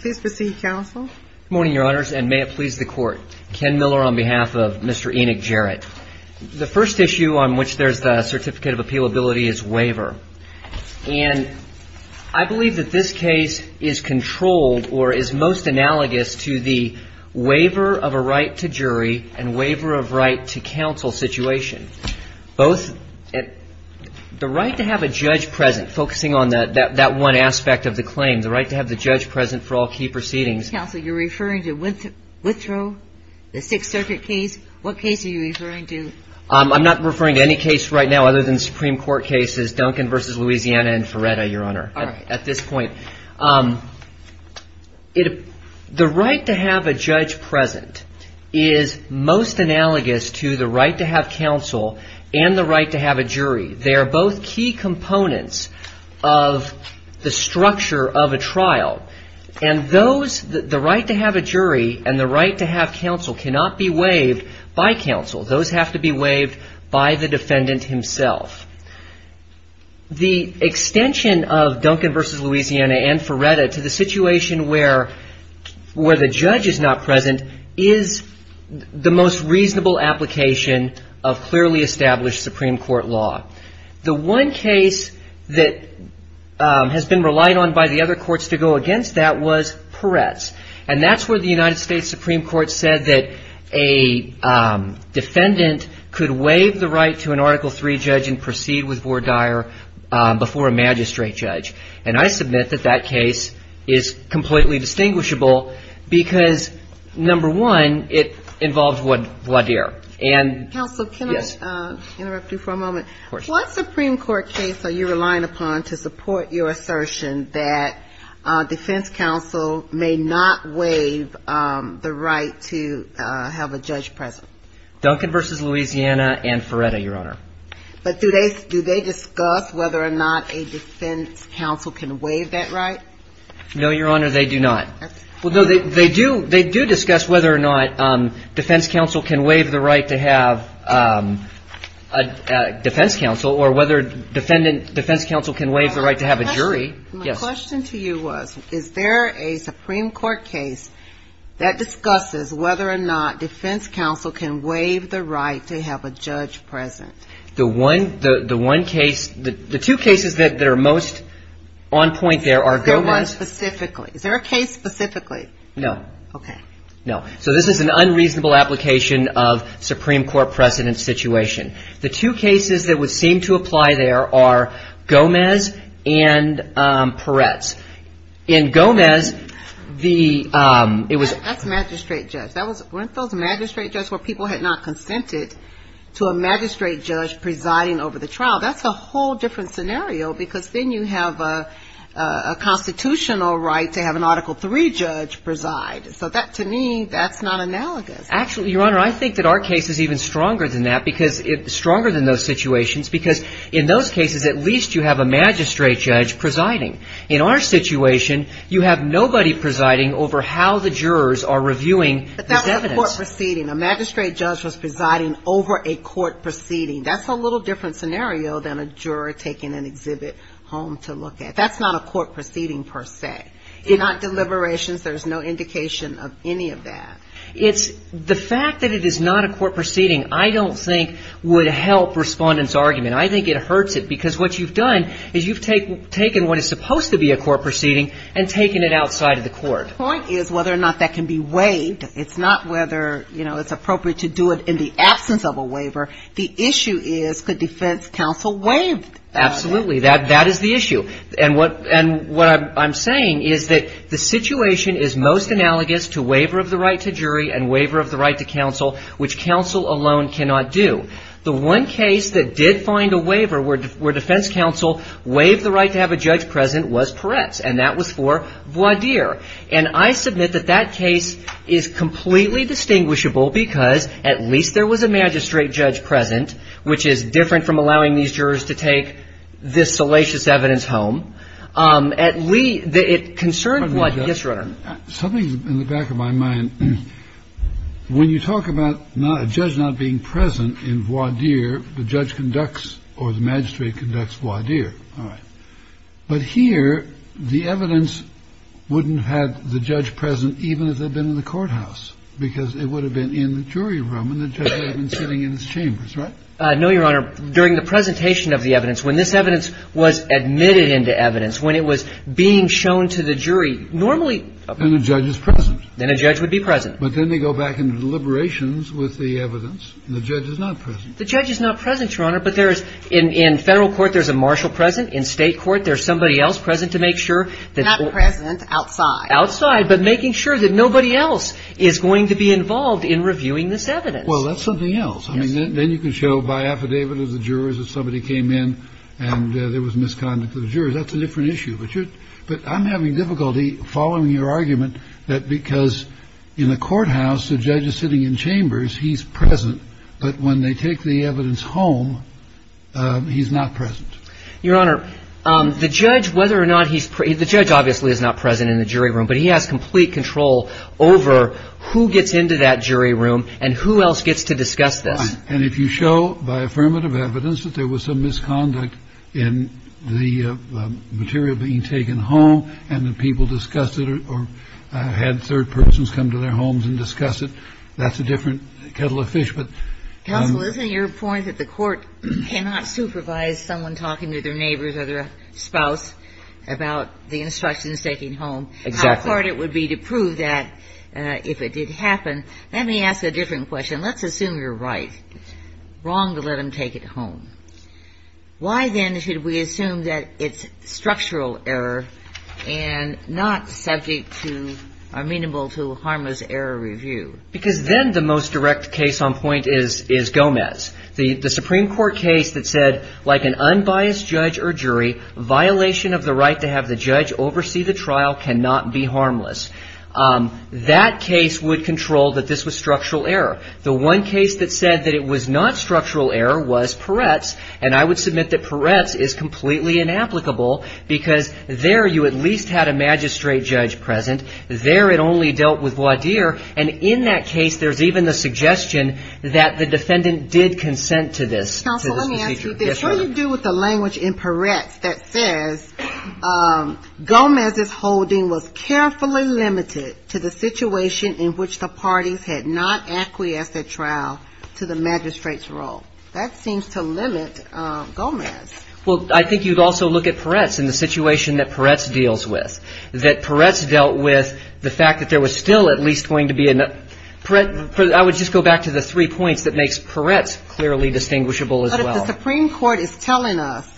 Please proceed, Counsel. Good morning, Your Honors, and may it please the Court. Ken Miller on behalf of Mr. Enoch Jarrett. The first issue on which there is the certificate of appealability is waiver. And I believe that this case is controlled or is most analogous to the waiver of a right to jury and waiver of right to counsel situation. The right to have a judge present, focusing on that one aspect of the claim, the right to have the judge present for all key proceedings. Counsel, you're referring to Withrow, the Sixth Circuit case? What case are you referring to? I'm not referring to any case right now other than Supreme Court cases, Duncan v. Louisiana and Feretta, Your Honor, at this point. The right to have a judge present is most analogous to the right to have counsel and the right to have a jury. They are both key components of the structure of a trial. And those, the right to have a jury and the right to have counsel cannot be waived by counsel. Those have to be waived by the defendant himself. The extension of Duncan v. Louisiana and Feretta to the situation where the judge is not present is the most reasonable application of clearly established Supreme Court law. The one case that has been relied on by the other courts to go against that was Peretz. And that's where the United States Supreme Court said that a defendant could waive the right to an Article III judge and proceed with vore dire before a magistrate judge. And I submit that that case is completely distinguishable because, number one, it involved vore dire. Counsel, can I interrupt you for a moment? Of course. What Supreme Court case are you relying upon to support your assertion that defense counsel may not waive the right to have a judge present? Duncan v. Louisiana and Feretta, Your Honor. But do they discuss whether or not a defense counsel can waive that right? No, Your Honor, they do not. Well, no, they do discuss whether or not defense counsel can waive the right to have a defense counsel or whether defense counsel can waive the right to have a jury. My question to you was, is there a Supreme Court case that discusses whether or not defense counsel can waive the right to have a judge present? The one case, the two cases that are most on point there are Gomez. Is there one specifically? Is there a case specifically? No. Okay. No. So this is an unreasonable application of Supreme Court precedent situation. The two cases that would seem to apply there are Gomez and Peretz. In Gomez, the, it was. That's magistrate judge. Weren't those magistrate judges where people had not consented to a magistrate judge presiding over the trial? That's a whole different scenario because then you have a constitutional right to have an Article III judge preside. So that, to me, that's not analogous. Actually, Your Honor, I think that our case is even stronger than that because it's stronger than those situations because in those cases, at least you have a magistrate judge presiding. In our situation, you have nobody presiding over how the jurors are reviewing. But that was a court proceeding. A magistrate judge was presiding over a court proceeding. That's a little different scenario than a juror taking an exhibit home to look at. That's not a court proceeding per se. They're not deliberations. There's no indication of any of that. It's the fact that it is not a court proceeding, I don't think, would help Respondent's argument. I think it hurts it because what you've done is you've taken what is supposed to be a court proceeding and taken it outside of the court. The point is whether or not that can be waived. It's not whether, you know, it's appropriate to do it in the absence of a waiver. The issue is could defense counsel waive that? Absolutely. That is the issue. And what I'm saying is that the situation is most analogous to waiver of the right to jury and waiver of the right to counsel, which counsel alone cannot do. The one case that did find a waiver where defense counsel waived the right to have a judge present was Peretz. And that was for Voidier. And I submit that that case is completely distinguishable because at least there was a magistrate judge present, which is different from allowing these jurors to take this salacious evidence home. At least the concern was Yes, Your Honor. Something in the back of my mind, when you talk about a judge not being present in Voidier, the judge conducts or the magistrate conducts Voidier. All right. But here, the evidence wouldn't have the judge present even if they'd been in the courthouse, because it would have been in the jury room and the judge would have been sitting in his chambers, right? No, Your Honor. During the presentation of the evidence, when this evidence was admitted into evidence, when it was being shown to the jury, normally a judge is present. Then a judge would be present. But then they go back into deliberations with the evidence and the judge is not present. The judge is not present, Your Honor. But there is in federal court, there's a marshal present in state court. There's somebody else present to make sure that not present outside outside, but making sure that nobody else is going to be involved in reviewing this evidence. Well, that's something else. I mean, then you can show by affidavit of the jurors that somebody came in and there was misconduct of the jurors. That's a different issue. But you're but I'm having difficulty following your argument that because in the courthouse, the judge is sitting in chambers, he's present. But when they take the evidence home, he's not present, Your Honor. The judge, whether or not he's the judge, obviously is not present in the jury room, but he has complete control over who gets into that jury room and who else gets to discuss this. And if you show by affirmative evidence that there was some misconduct in the material being taken home and the people discuss it or had third persons come to their homes and discuss it. That's a different kettle of fish. But counsel, isn't your point that the court cannot supervise someone talking to their neighbors or their spouse about the instructions taking home? Exactly. It would be to prove that if it did happen. Let me ask a different question. Let's assume you're right. Wrong to let them take it home. Why, then, should we assume that it's structural error and not subject to are amenable to harmless error review? Because then the most direct case on point is Gomez. The Supreme Court case that said, like an unbiased judge or jury, violation of the right to have the judge oversee the trial cannot be harmless. That case would control that this was structural error. The one case that said that it was not structural error was Peretz. And I would submit that Peretz is completely inapplicable because there you at least had a magistrate judge present. There it only dealt with Wadir. And in that case, there's even the suggestion that the defendant did consent to this. Counsel, let me ask you this. What do you do with the language in Peretz that says Gomez's holding was carefully limited to the situation in which the parties had not acquiesced at trial to the magistrate's role? That seems to limit Gomez. Well, I think you'd also look at Peretz and the situation that Peretz deals with. That Peretz dealt with the fact that there was still at least going to be enough. I would just go back to the three points that makes Peretz clearly distinguishable as well. If the Supreme Court is telling us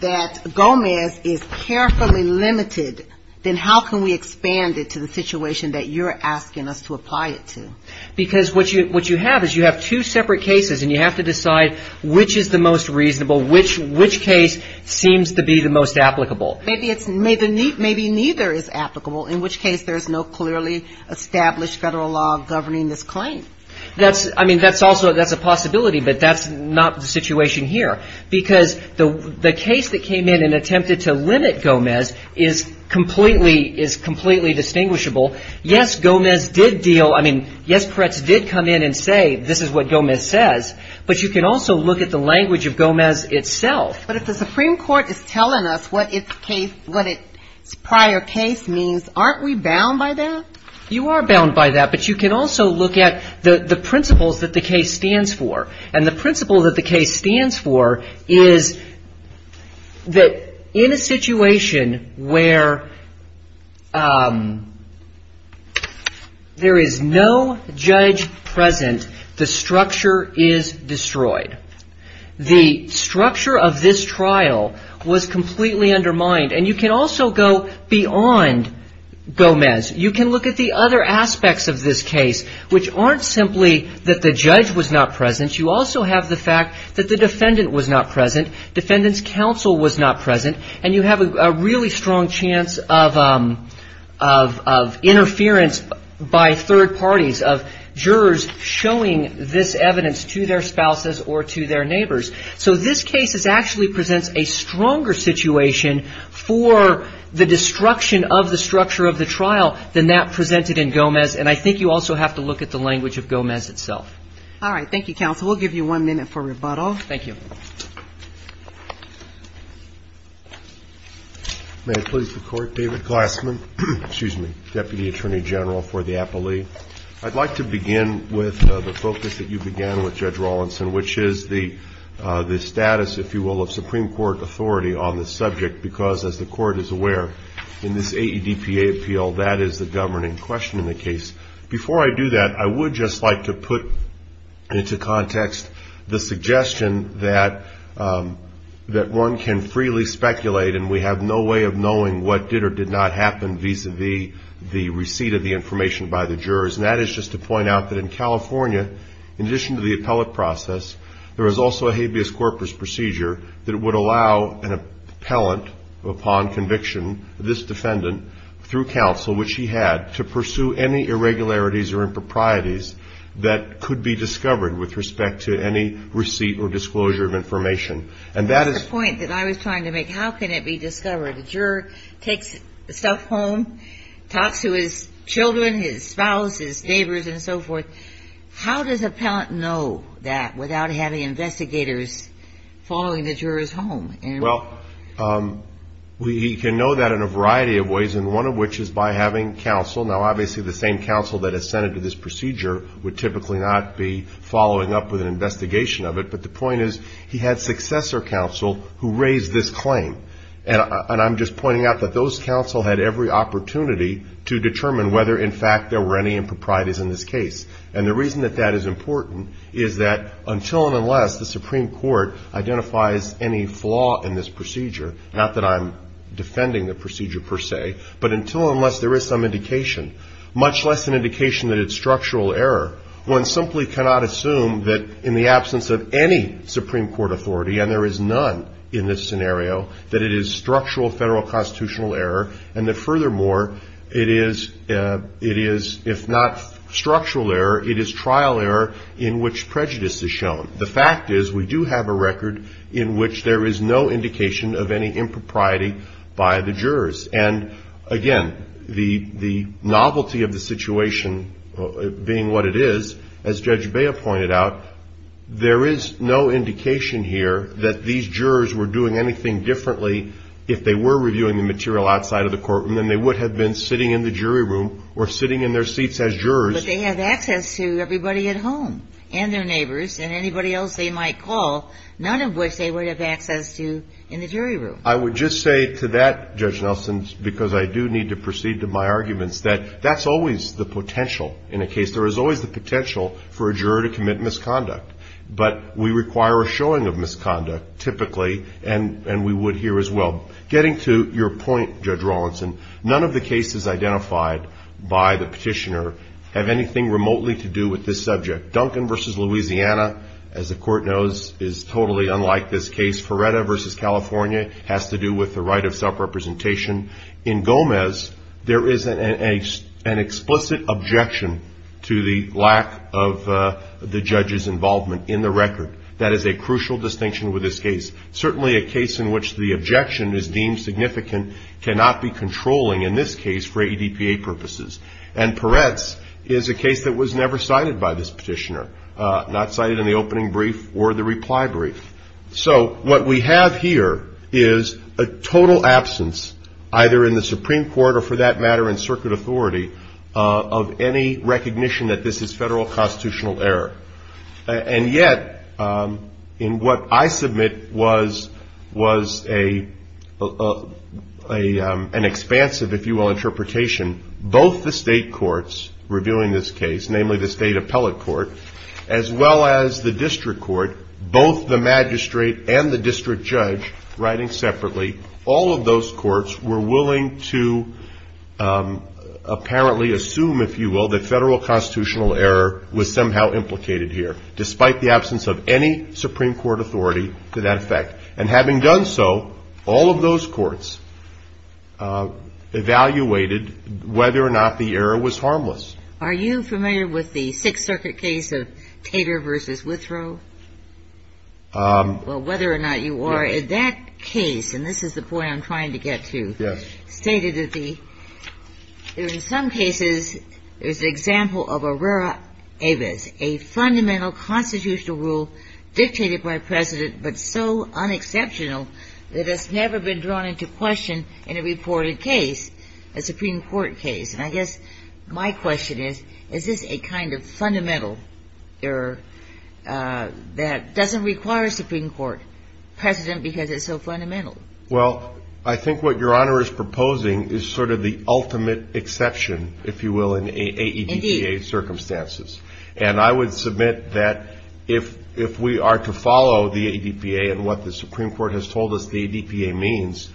that Gomez is carefully limited, then how can we expand it to the situation that you're asking us to apply it to? Because what you have is you have two separate cases and you have to decide which is the most reasonable, which case seems to be the most applicable. Maybe neither is applicable, in which case there's no clearly established federal law governing this claim. I mean, that's also a possibility, but that's not the situation here. Because the case that came in and attempted to limit Gomez is completely distinguishable. Yes, Gomez did deal. I mean, yes, Peretz did come in and say this is what Gomez says. But you can also look at the language of Gomez itself. But if the Supreme Court is telling us what its case, what its prior case means, aren't we bound by that? You are bound by that, but you can also look at the principles that the case stands for. And the principle that the case stands for is that in a situation where there is no judge present, the structure is destroyed. The structure of this trial was completely undermined. And you can also go beyond Gomez. You can look at the other aspects of this case, which aren't simply that the judge was not present. You also have the fact that the defendant was not present. Defendant's counsel was not present. And you have a really strong chance of interference by third parties, of jurors showing this evidence to their spouses or to their neighbors. So this case actually presents a stronger situation for the destruction of the structure of the trial than that presented in Gomez. And I think you also have to look at the language of Gomez itself. All right. Thank you, counsel. We'll give you one minute for rebuttal. Thank you. May I please the court? David Glassman, excuse me, Deputy Attorney General for the appellee. I'd like to begin with the focus that you began with, Judge Rawlinson, which is the status, if you will, of Supreme Court authority on this subject. Because as the court is aware, in this AEDPA appeal, that is the governing question in the case. Before I do that, I would just like to put into context the suggestion that one can freely speculate and we have no way of knowing what did or did not happen vis-a-vis the receipt of the information by the jurors. And that is just to point out that in California, in addition to the appellate process, there is also a habeas corpus procedure that would allow an appellant upon conviction, this defendant, through counsel, which he had, to pursue any irregularities or improprieties that could be discovered with respect to any receipt or disclosure of information. And that is the point that I was trying to make. How can it be discovered? The juror takes the stuff home, talks to his children, his spouse, his neighbors and so forth. How does appellant know that without having investigators following the juror's home? Well, he can know that in a variety of ways, and one of which is by having counsel. Now, obviously, the same counsel that has sent it to this procedure would typically not be following up with an investigation of it. But the point is, he had successor counsel who raised this claim. And I'm just pointing out that those counsel had every opportunity to determine whether, in fact, there were any improprieties in this case. And the reason that that is important is that until and unless the Supreme Court identifies any flaw in this procedure, not that I'm defending the procedure per se, but until and unless there is some indication, much less an indication that it's structural error, one simply cannot assume that in the absence of any Supreme Court authority, and there is none in this scenario, that it is structural federal constitutional error, and that furthermore, it is, if not structural error, it is trial error in which prejudice is shown. The fact is, we do have a record in which there is no indication of any impropriety by the jurors. And again, the novelty of the situation being what it is, as Judge Bea pointed out, there is no indication here that these jurors were doing anything differently if they were reviewing the material outside of the courtroom than they would have been sitting in the jury room or sitting in their seats as jurors. But they have access to everybody at home and their neighbors and anybody else they might call, none of which they would have access to in the jury room. I would just say to that, Judge Nelson, because I do need to proceed to my arguments, that that's always the potential in a case. There is always the potential for a juror to commit misconduct, but we require a showing of misconduct, typically, and we would here as well. Getting to your point, Judge Rawlinson, none of the cases identified by the petitioner have anything remotely to do with this subject. Duncan v. Louisiana, as the court knows, is totally unlike this case. Ferretta v. California has to do with the right of self-representation. In Gomez, there is an explicit objection to the lack of the judge's involvement in the record. That is a crucial distinction with this case. Certainly a case in which the objection is deemed significant cannot be controlling in this case for ADPA purposes. And Peretz is a case that was never cited by this petitioner, not cited in the opening brief or the reply brief. So what we have here is a total absence, either in the Supreme Court or, for that matter, in circuit authority, of any recognition that this is federal constitutional error. And yet, in what I submit was an expansive, if you will, interpretation, both the state courts reviewing this case, namely the state appellate court, as well as the district court, both the magistrate and the district judge writing separately, all of those courts were willing to apparently assume, if you will, that federal constitutional error was somehow implicated here, despite the absence of any Supreme Court authority to that effect. And having done so, all of those courts evaluated whether or not the error was harmless. Are you familiar with the Sixth Circuit case of Tater versus Withrow? Well, whether or not you are in that case, and this is the point I'm trying to get to. Yes. Stated that the in some cases is the example of Aurora Avis, a fundamental constitutional rule dictated by a president, but so unexceptional that has never been drawn into question in a reported case, a Supreme Court case. And I guess my question is, is this a kind of fundamental error that doesn't require a Supreme Court president because it's so fundamental? Well, I think what Your Honor is proposing is sort of the ultimate exception, if you will, in AEDPA circumstances. And I would submit that if we are to follow the AEDPA and what the Supreme Court has told us the AEDPA means,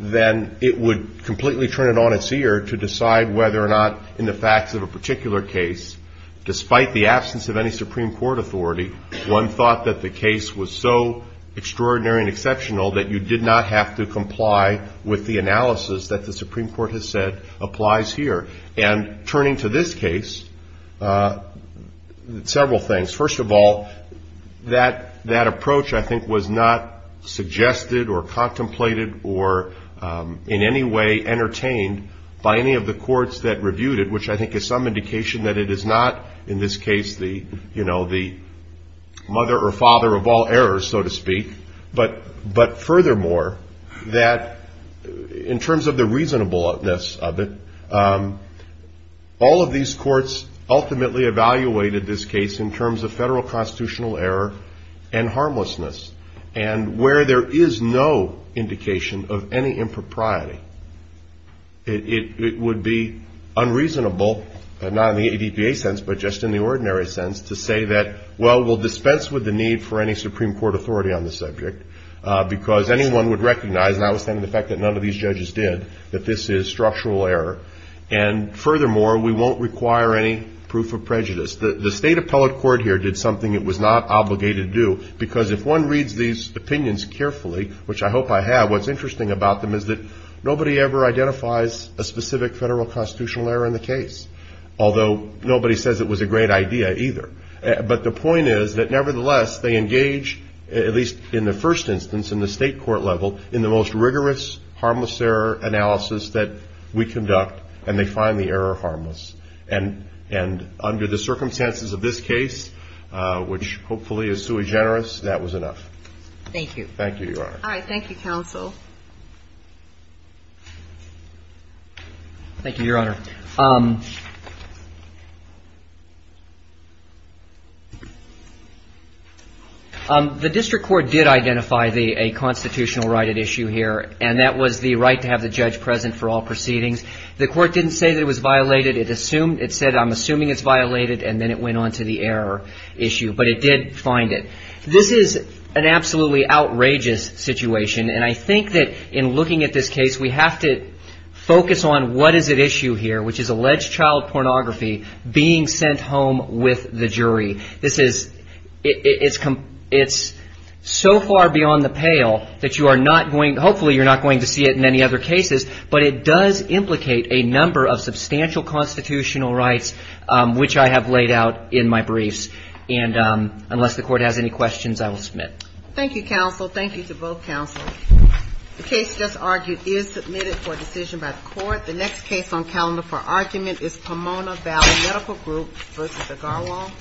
then it would completely turn it on its ear to decide whether or not in the facts of a particular case, despite the absence of any Supreme Court authority, one thought that the case was so extraordinary and exceptional that you did not have to comply with the analysis that the Supreme Court has said applies here. And turning to this case, several things. First of all, that that approach, I think, was not suggested or contemplated or in any way entertained by any of the courts that reviewed it, which I think is some indication that it is not in this case the you know, the mother or father of all errors, so to speak. But but furthermore, that in terms of the reasonableness of it, all of these courts ultimately evaluated this case in terms of federal constitutional error and harmlessness. And where there is no indication of any impropriety, it would be unreasonable, not in the AEDPA sense, but just in the ordinary sense to say that, well, we'll dispense with the need for any Supreme Court authority on the subject, because anyone would recognize, notwithstanding the fact that none of these judges did, that this is structural error. And furthermore, we won't require any proof of prejudice. The state appellate court here did something it was not obligated to do, because if one reads these opinions carefully, which I hope I have, what's interesting about them is that nobody ever identifies a specific federal constitutional error in the case, although nobody says it was a great idea either. But the point is that nevertheless, they engage, at least in the first instance in the state court level, in the most rigorous harmless error analysis that we conduct, and they find the error harmless. And and under the circumstances of this case, which hopefully is sui generis, that was enough. Thank you. Thank you, Your Honor. All right. Thank you, counsel. Thank you, Your Honor. The district court did identify the a constitutional right at issue here, and that was the right to have the judge present for all proceedings. The court didn't say that it was violated. It assumed it said, I'm assuming it's violated. And then it went on to the error issue. But it did find it. This is an absolutely outrageous situation. And I think that in looking at this case, we have to focus on what is at issue here, which is alleged child pornography being sent home with the jury. This is it's it's so far beyond the pale that you are not going hopefully you're not going to see it in any other cases. But it does implicate a number of substantial constitutional rights, which I have laid out in my briefs. And unless the court has any questions, I will submit. Thank you, counsel. Thank you to both counsel. The case just argued is submitted for decision by the court. The next case on calendar for argument is Pomona Valley Medical Group versus the Garland. Yes.